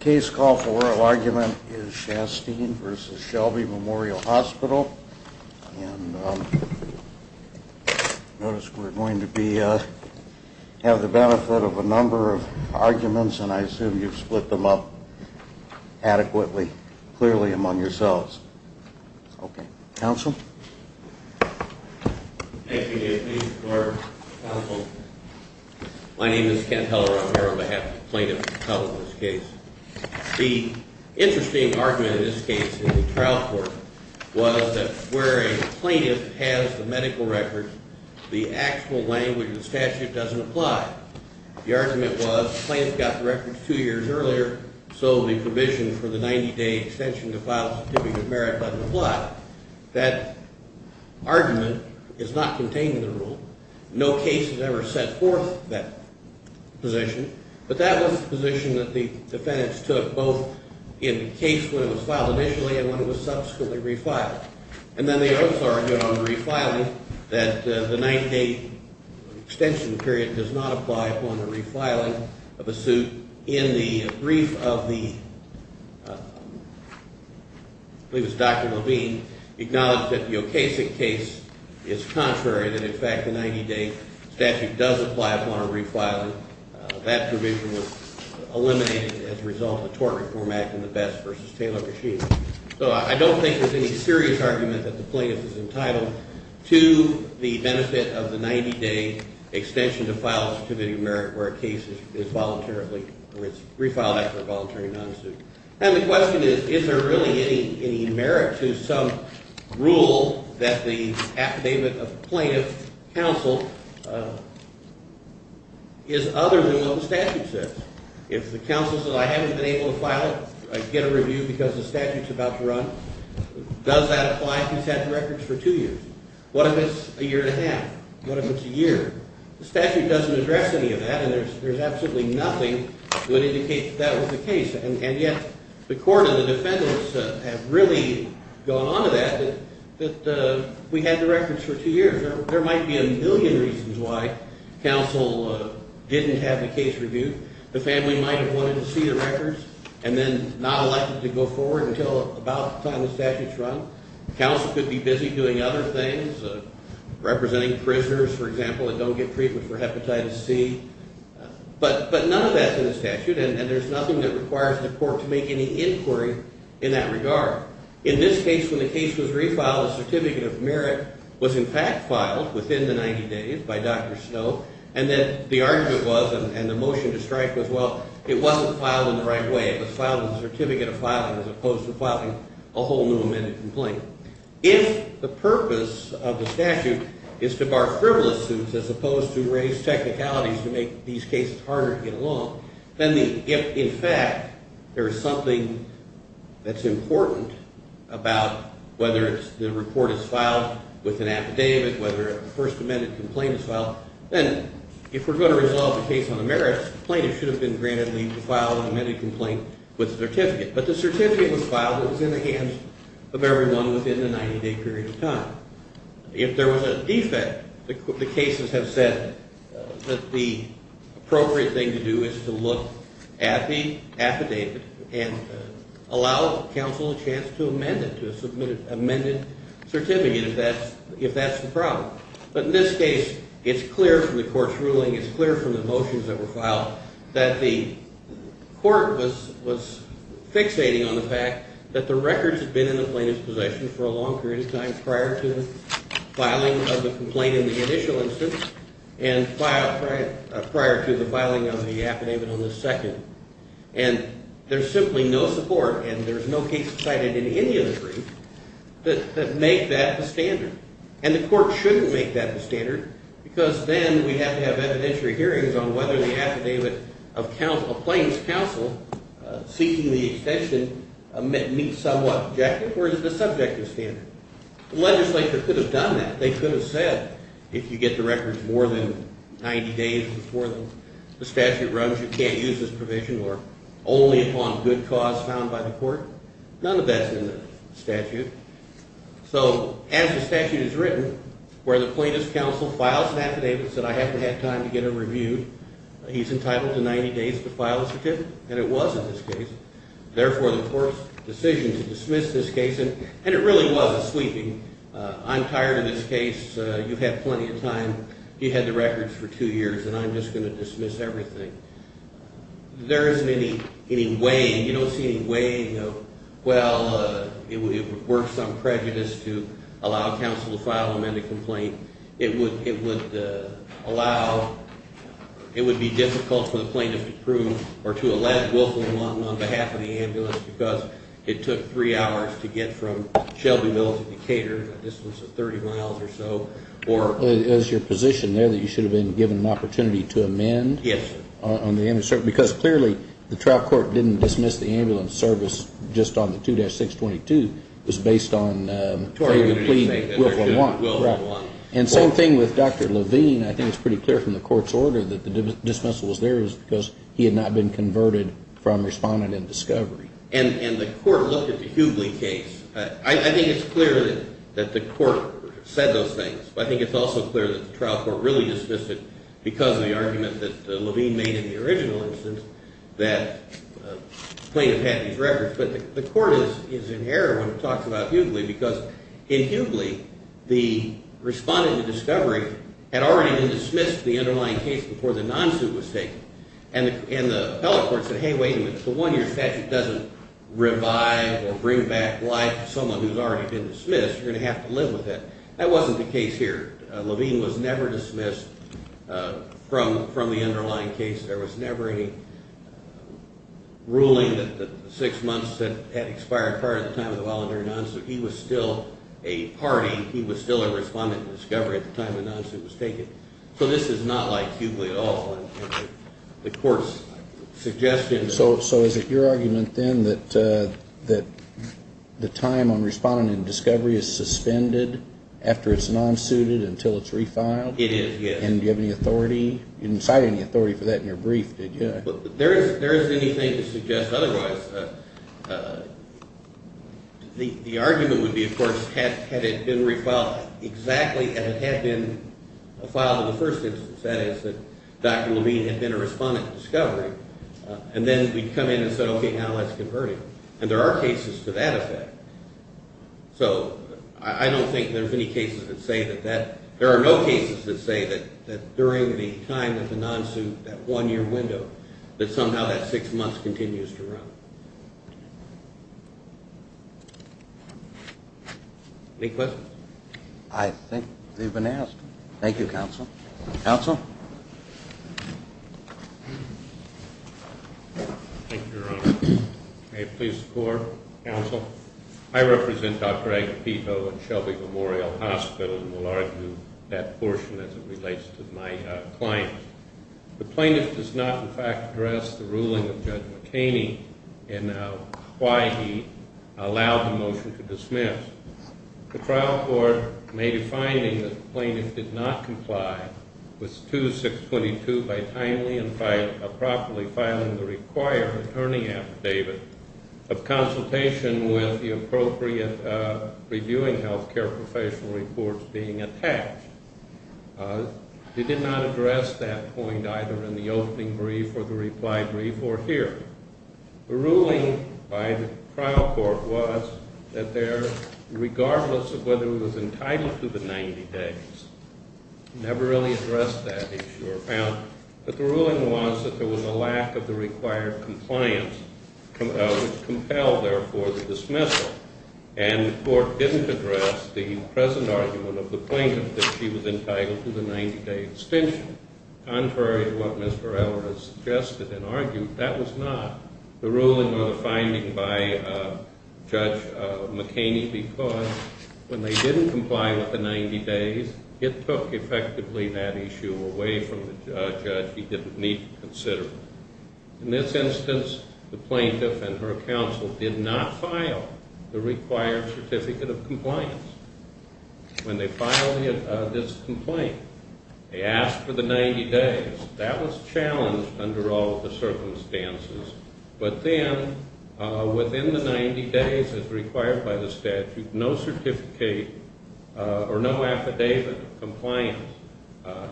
Case call for oral argument is Shasteen v. Shelby Memorial Hospital and notice we're going to have the benefit of a number of arguments and I assume you've split them up adequately, clearly among yourselves. Okay, counsel? Thank you, Dave. Thank you, Clark. Counsel, my name is Ken Heller. I'm here on behalf of the plaintiff, in this case. The interesting argument in this case in the trial court was that where a plaintiff has the medical record, the actual language of the statute doesn't apply. The argument was the plaintiff got the records two years earlier, so the provision for the 90-day extension to file a certificate of merit doesn't apply. That argument is not contained in the rule. No case has ever set forth that position, but that was the position that the defendants took both in the case when it was filed initially and when it was subsequently refiled. And then they also argued on refiling that the 90-day extension period does not apply upon the refiling of a suit. In the brief of the, I believe it was Dr. Levine, acknowledged that the Okasik case is contrary, that in fact the 90-day statute does apply upon a refiling. That provision was eliminated as a result of the Tort Reform Act and the Best v. Taylor machine. So I don't think there's any serious argument that the plaintiff is entitled to the benefit of the 90-day extension to file a certificate of merit where a case is voluntarily, or it's refiled after a voluntary non-suit. And the question is, is there really any merit to some rule that the affidavit of plaintiff counsel is other than what the statute says? If the counsel says I haven't been able to file it, get a review because the statute's about to run, does that apply if he's had the records for two years? What if it's a year and a half? What if it's a year? The statute doesn't address any of that and there's absolutely nothing that would indicate that that was the case. And yet the court and the defendants have really gone on to that, that we had the records for two years. There might be a million reasons why counsel didn't have the case reviewed. The family might have wanted to see the records and then not elected to go forward until about the time the statute's run. Counsel could be busy doing other things, representing prisoners, for example, that don't get treatment for hepatitis C. But none of that's in the statute and there's nothing that requires the court to make any inquiry in that regard. In this case, when the case was refiled, a certificate of merit was in fact filed within the 90 days by Dr. Snow. And then the argument was and the motion to strike was, well, it wasn't filed in the right way. It was filed with a certificate of filing as opposed to filing a whole new amended complaint. If the purpose of the statute is to bar frivolous suits as opposed to raise technicalities to make these cases harder to get along, then if in fact there is something that's important about whether the report is filed with an affidavit, whether the first amended complaint is filed, then if we're going to resolve the case on the merits, plaintiffs should have been granted leave to file an amended complaint with a certificate. But the certificate was filed. It was in the hands of everyone within the 90-day period of time. If there was a defect, the cases have said that the appropriate thing to do is to look at the affidavit and allow counsel a chance to amend it, to submit an amended certificate if that's the problem. But in this case, it's clear from the court's ruling, it's clear from the motions that were filed that the court was fixating on the fact that the records had been in the plaintiff's possession for a long period of time prior to the filing of the complaint in the initial instance and prior to the filing of the affidavit on the second. And there's simply no support and there's no case cited in any of the briefs that make that the standard. And the court shouldn't make that the standard because then we'd have to have evidentiary hearings on whether the affidavit of plaintiff's counsel seeking the extension meets somewhat objective or is it a subjective standard. The legislature could have done that. They could have said if you get the records more than 90 days before the statute runs, you can't use this provision or only upon good cause found by the court. None of that's in the statute. So as the statute is written, where the plaintiff's counsel files an affidavit and says I haven't had time to get it reviewed, he's entitled to 90 days to file a certificate, and it was in this case. Therefore, the court's decision to dismiss this case, and it really was a sweeping, I'm tired of this case, you had plenty of time, you had the records for two years, and I'm just going to dismiss everything. There isn't any way, you don't see any way, well, it would work some prejudice to allow counsel to file an amended complaint. It would allow, it would be difficult for the plaintiff to prove or to elect Wilson and Lawton on behalf of the ambulance because it took three hours to get from Shelbyville to Decatur, a distance of 30 miles or so. It was your position there that you should have been given an opportunity to amend? Yes. Because clearly the trial court didn't dismiss the ambulance service just on the 2-622. It was based on a plea to Wilson and Lawton. Right. And same thing with Dr. Levine. I think it's pretty clear from the court's order that the dismissal was there because he had not been converted from responding in discovery. And the court looked at the Hughley case. I think it's clear that the court said those things, but I think it's also clear that the trial court really dismissed it because of the argument that Levine made in the original instance that the plaintiff had these records. But the court is in error when it talks about Hughley because in Hughley, the respondent to discovery had already been dismissed to the underlying case before the non-suit was taken. And the appellate court said, hey, wait a minute. If the one-year statute doesn't revive or bring back life to someone who's already been dismissed, you're going to have to live with it. That wasn't the case here. Levine was never dismissed from the underlying case. There was never any ruling that the six months that had expired prior to the time of the voluntary non-suit, he was still a party, he was still a respondent to discovery at the time the non-suit was taken. So this is not like Hughley at all. The court's suggestion... So is it your argument then that the time on respondent and discovery is suspended after it's non-suited until it's refiled? It is, yes. And do you have any authority – you didn't cite any authority for that in your brief, did you? There isn't anything to suggest otherwise. The argument would be, of course, had it been refiled exactly as it had been filed in the first instance, that is, that Dr. Levine had been a respondent to discovery, and then we'd come in and said, okay, now let's convert him. And there are cases to that effect. So I don't think there's any cases that say that that – there are no cases that say that during the time of the non-suit, that one-year window, that somehow that six months continues to run. Any questions? I think they've been asked. Thank you, counsel. Counsel? Thank you, Your Honor. May it please the Court, counsel? I represent Dr. Agapito at Shelby Memorial Hospital and will argue that portion as it relates to my client. The plaintiff does not, in fact, address the ruling of Judge McCaney in why he allowed the motion to dismiss. The trial court made a finding that the plaintiff did not comply with 2-622 by timely and properly filing the required attorney affidavit of consultation with the appropriate reviewing health care professional reports being attached. They did not address that point either in the opening brief or the reply brief or here. The ruling by the trial court was that there, regardless of whether he was entitled to the 90 days, never really addressed that issue. But the ruling was that there was a lack of the required compliance, which compelled, therefore, the dismissal. And the court didn't address the present argument of the plaintiff that she was entitled to the 90-day extension. Contrary to what Mr. Eller has suggested and argued, that was not the ruling or the finding by Judge McCaney because when they didn't comply with the 90 days, it took effectively that issue away from the judge. He didn't need to consider it. In this instance, the plaintiff and her counsel did not file the required certificate of compliance. When they filed this complaint, they asked for the 90 days. That was challenged under all of the circumstances. But then, within the 90 days as required by the statute, no certificate or no affidavit of compliance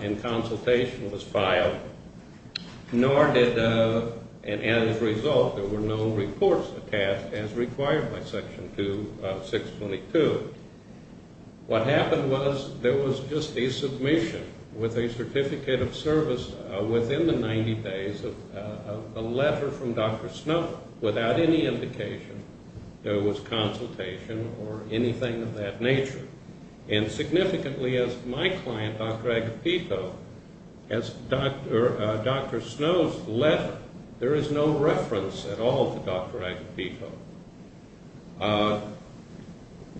in consultation was filed. Nor did, and as a result, there were no reports attached as required by Section 2 of 622. What happened was there was just a submission with a certificate of service within the 90 days of a letter from Dr. Snow without any indication that it was consultation or anything of that nature. And significantly, as my client, Dr. Agapito, as Dr. Snow's letter, there is no reference at all to Dr. Agapito.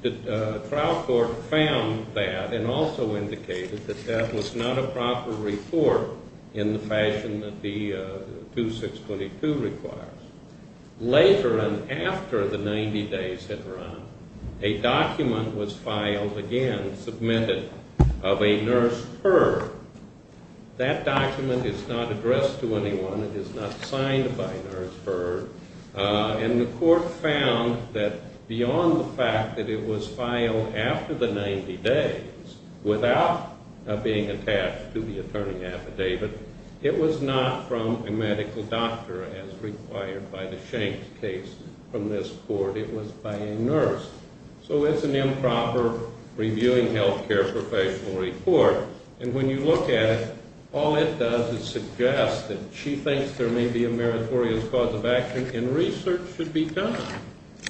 The trial court found that and also indicated that that was not a proper report in the fashion that the 2.622 requires. Later and after the 90 days had run, a document was filed again, submitted of a nurse per. That document is not addressed to anyone. It is not signed by a nurse per. And the court found that beyond the fact that it was filed after the 90 days without being attached to the attorney affidavit, it was not from a medical doctor as required by the Schenck case from this court. It was by a nurse. So it's an improper reviewing health care professional report. And when you look at it, all it does is suggest that she thinks there may be a meritorious cause of action, and research should be done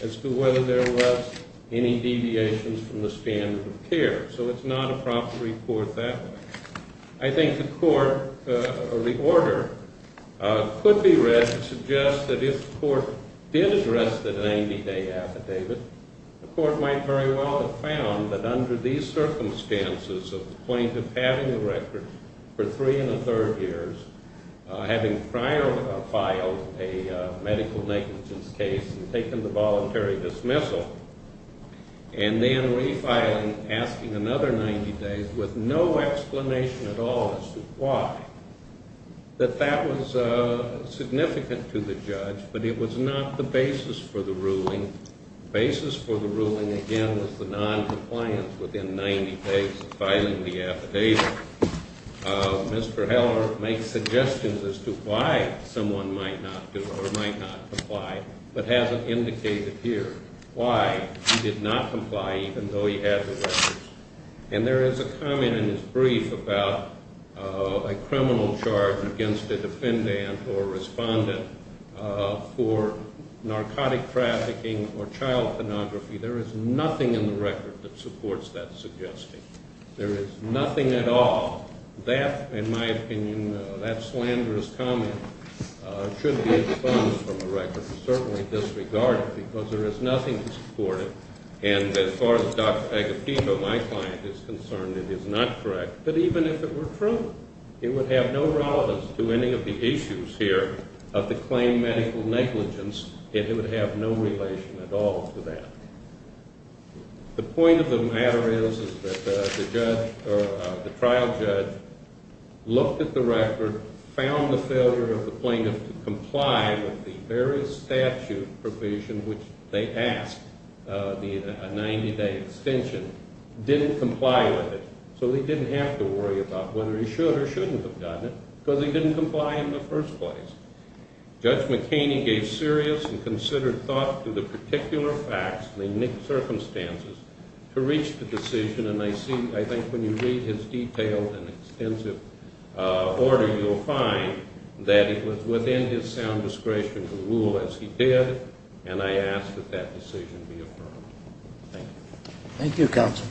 as to whether there was any deviations from the standard of care. So it's not a proper report that way. I think the court or the order could be read to suggest that if the court did address the 90-day affidavit, the court might very well have found that under these circumstances of plaintiff having a record for three and a third years, having prior filed a medical negligence case and taken the voluntary dismissal, and then refiling, asking another 90 days with no explanation at all as to why, that that was significant to the judge. But it was not the basis for the ruling. The basis for the ruling, again, was the non-compliance within 90 days of filing the affidavit. Mr. Heller makes suggestions as to why someone might not do or might not comply, but hasn't indicated here why he did not comply even though he had the records. And there is a comment in his brief about a criminal charge against a defendant or respondent for narcotic trafficking or child pornography. There is nothing in the record that supports that suggestion. There is nothing at all. That, in my opinion, that slanderous comment should be expunged from the record and certainly disregarded because there is nothing to support it. And as far as Dr. Agustino, my client, is concerned, it is not correct. But even if it were true, it would have no relevance to any of the issues here of the claimed medical negligence. It would have no relation at all to that. The point of the matter is that the trial judge looked at the record, found the failure of the plaintiff to comply with the various statute provision, which they asked, the 90-day extension, didn't comply with it. So they didn't have to worry about whether he should or shouldn't have done it because he didn't comply in the first place. Judge McKinney gave serious and considered thought to the particular facts and the circumstances to reach the decision. And I think when you read his detailed and extensive order, you'll find that it was within his sound discretion to rule as he did. And I ask that that decision be affirmed. Thank you. Thank you, counsel.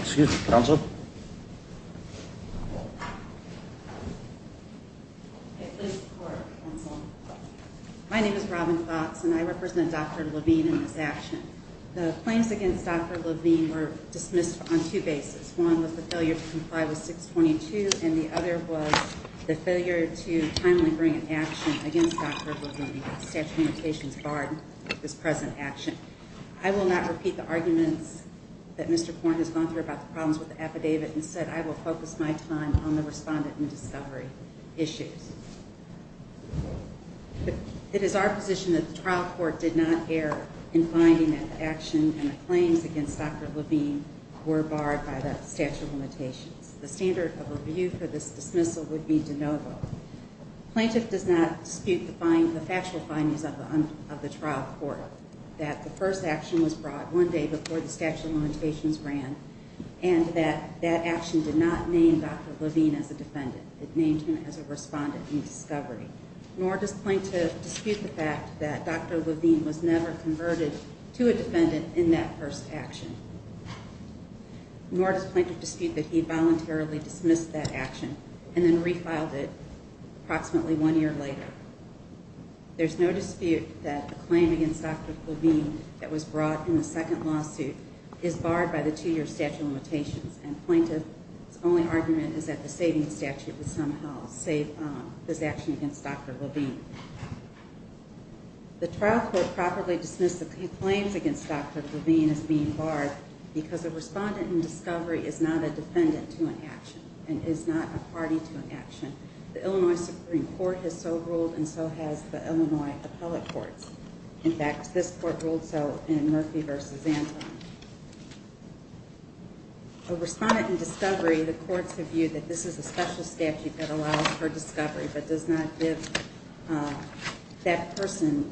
Excuse me, counsel. My name is Robin Fox, and I represent Dr. Levine in this action. The claims against Dr. Levine were dismissed on two bases. One was the failure to comply with 622, and the other was the failure to timely bring an action against Dr. Levine. The statute of limitations barred this present action. I will not repeat the arguments that Mr. Corn has gone through about the problems with the affidavit. Instead, I will focus my time on the respondent and discovery issues. It is our position that the trial court did not err in finding that the action and the claims against Dr. Levine were barred by the statute of limitations. The standard of review for this dismissal would be de novo. Plaintiff does not dispute the factual findings of the trial court that the first action was brought one day before the statute of limitations ran and that that action did not name Dr. Levine as a defendant. It named him as a respondent in discovery. Nor does plaintiff dispute the fact that Dr. Levine was never converted to a defendant in that first action. Nor does plaintiff dispute that he voluntarily dismissed that action and then refiled it approximately one year later. There is no dispute that the claim against Dr. Levine that was brought in the second lawsuit is barred by the two-year statute of limitations, and plaintiff's only argument is that the saving statute would somehow save this action against Dr. Levine. The trial court properly dismissed the claims against Dr. Levine as being barred because a respondent in discovery is not a defendant to an action and is not a party to an action. The Illinois Supreme Court has so ruled and so has the Illinois appellate courts. In fact, this court ruled so in Murphy v. Anton. A respondent in discovery, the courts have viewed that this is a special statute that allows for discovery but does not give that person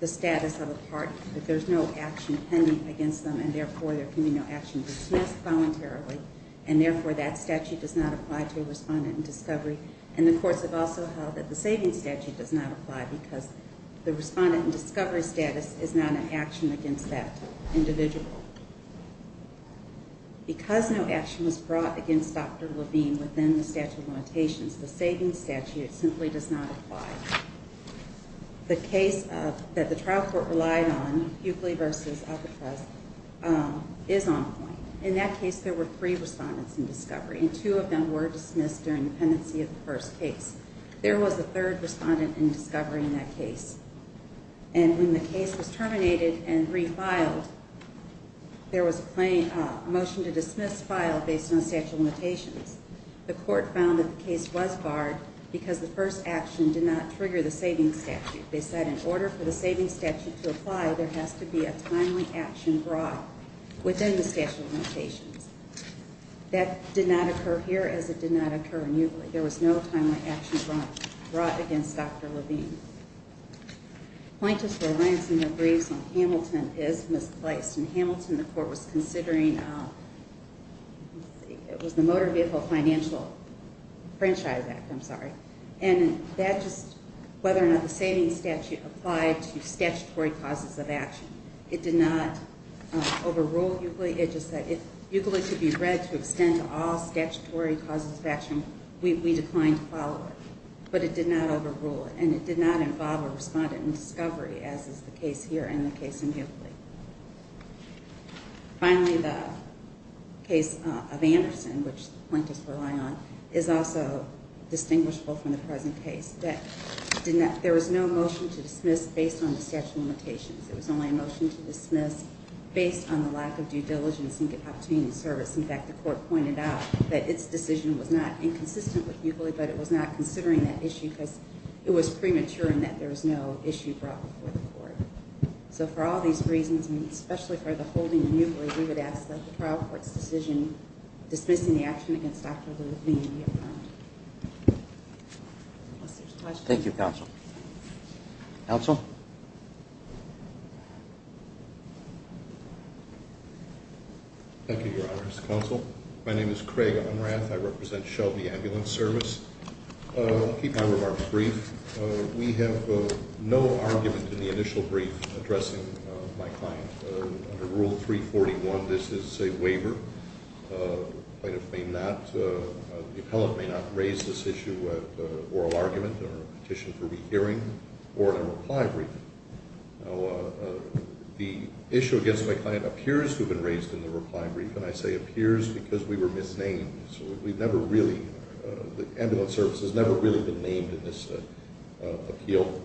the status of a party, that there's no action pending against them and therefore there can be no action dismissed voluntarily and therefore that statute does not apply to a respondent in discovery. And the courts have also held that the saving statute does not apply because the respondent in discovery status is not an action against that individual. Because no action was brought against Dr. Levine within the statute of limitations, the saving statute simply does not apply. The case that the trial court relied on, Bukley v. Alcatraz, is on point. In that case, there were three respondents in discovery and two of them were dismissed during the pendency of the first case. There was a third respondent in discovery in that case. And when the case was terminated and refiled, there was a motion to dismiss file based on the statute of limitations. The court found that the case was barred because the first action did not trigger the saving statute. They said in order for the saving statute to apply, there has to be a timely action brought within the statute of limitations. That did not occur here as it did not occur in Bukley. There was no timely action brought against Dr. Levine. Plaintiffs' reliance on the briefs on Hamilton is misplaced. In Hamilton, the court was considering the Motor Vehicle Financial Franchise Act. And whether or not the saving statute applied to statutory causes of action. It did not overrule Bukley. Bukley should be read to extend to all statutory causes of action. We declined to follow it. But it did not overrule it. And it did not involve a respondent in discovery as is the case here and the case in Bukley. Finally, the case of Anderson, which the plaintiffs rely on, is also distinguishable from the present case. There was no motion to dismiss based on the statute of limitations. There was only a motion to dismiss based on the lack of due diligence in obtaining the service. In fact, the court pointed out that its decision was not inconsistent with Bukley, but it was not considering that issue because it was premature in that there was no issue brought before the court. So for all these reasons, especially for the holding of Bukley, we would ask that the trial court's decision dismissing the action against Dr. Levine be affirmed. Thank you, counsel. Counsel? Thank you, Your Honor. Counsel? My name is Craig Unrath. I represent Shelby Ambulance Service. I'll keep my remarks brief. We have no argument in the initial brief addressing my client. Under Rule 341, this is a waiver. The plaintiff may not, the appellant may not raise this issue at oral argument or petition for rehearing, or in a reply brief. Now, the issue against my client appears to have been raised in the reply brief, and I say appears because we were misnamed. So we've never really, the ambulance service has never really been named in this appeal.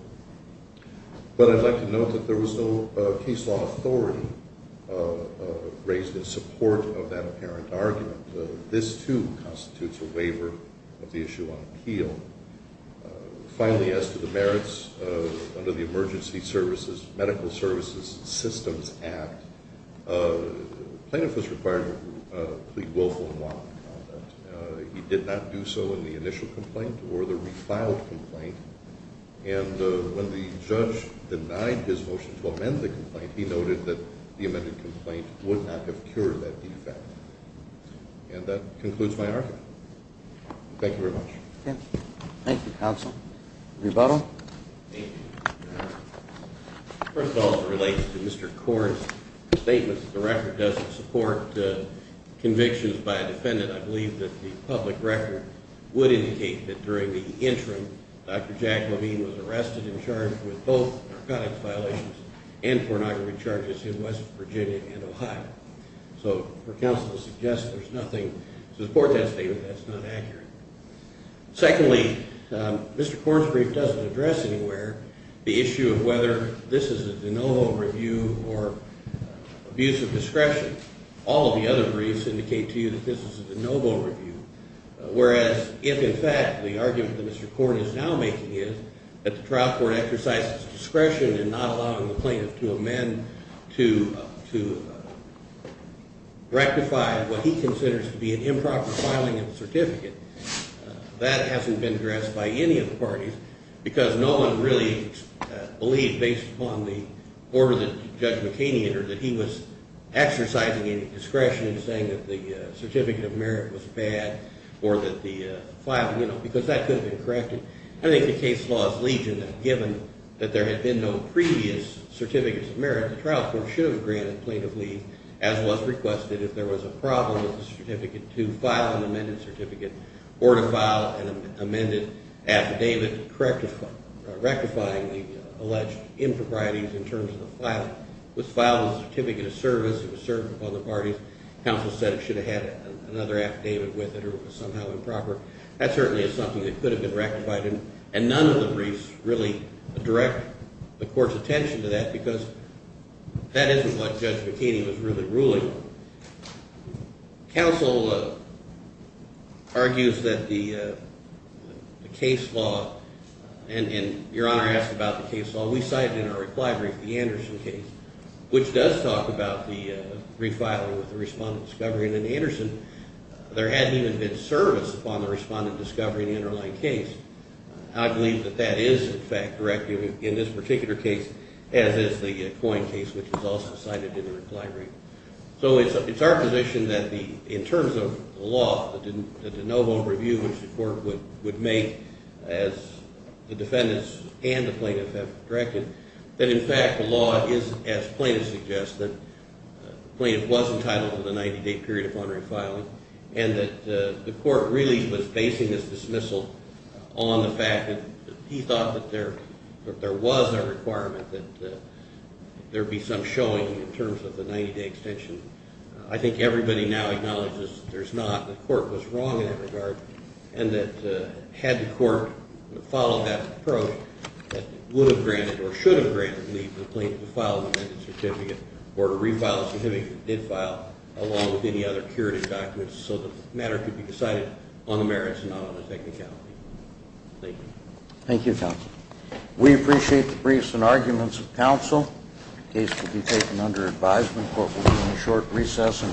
But I'd like to note that there was no case law authority raised in support of that apparent argument. This, too, constitutes a waiver of the issue on appeal. Finally, as to the merits under the Emergency Services, Medical Services Systems Act, plaintiff was required to plead willful in lawful conduct. He did not do so in the initial complaint or the refiled complaint. And when the judge denied his motion to amend the complaint, he noted that the amended complaint would not have cured that defect. And that concludes my argument. Thank you very much. Okay. Thank you, counsel. Rebuttal. Thank you. First of all, it relates to Mr. Corr's statement that the record doesn't support convictions by a defendant. I believe that the public record would indicate that during the interim, Dr. Jack Levine was arrested and charged with both narcotics violations and pornography charges in West Virginia and Ohio. So her counsel suggests there's nothing to support that statement. That's not accurate. Secondly, Mr. Corr's brief doesn't address anywhere the issue of whether this is a de novo review or abuse of discretion. All of the other briefs indicate to you that this is a de novo review, whereas if, in fact, the argument that Mr. Corr is now making is that the trial court exercised its discretion in not allowing the plaintiff to amend to rectify what he considers to be an improper filing of a certificate, that hasn't been addressed by any of the parties because no one really believed, based upon the order that Judge McHaney entered, that he was exercising any discretion in saying that the certificate of merit was bad or that the filing, you know, because that could have been corrected. I think the case laws lead to that. Given that there had been no previous certificates of merit, the trial court should have granted plaintiff leave, as was requested, if there was a problem with the certificate to file an amended certificate or to file an amended affidavit rectifying the alleged improprieties in terms of the filing. It was filed as a certificate of service. It was served upon the parties. Counsel said it should have had another affidavit with it or it was somehow improper. That certainly is something that could have been rectified, and none of the briefs really direct the court's attention to that because that isn't what Judge McHaney was really ruling. Counsel argues that the case law, and Your Honor asked about the case law, we cited in our reply brief the Anderson case, which does talk about the refiling with the respondent discovery, and in Anderson there hadn't even been service upon the respondent discovering the underlying case. I believe that that is, in fact, correct in this particular case, as is the Coyne case, which was also cited in the reply brief. So it's our position that in terms of the law, the de novo review, which the court would make as the defendants and the plaintiff have directed, that in fact the law is, as plaintiff suggests, that the plaintiff was entitled to the 90-day period of honorary filing and that the court really was basing this dismissal on the fact that he thought that there was a requirement that there be some showing in terms of the 90-day extension. I think everybody now acknowledges there's not, the court was wrong in that regard, and that had the court followed that approach, that it would have granted or should have granted the plaintiff to file an amended certificate or to refile a certificate that did file along with any other curative documents so the matter could be decided on the merits and not on the technicality. Thank you. Thank you, counsel. We appreciate the briefs and arguments of counsel. The case will be taken under advisement. The court will be in a short recess.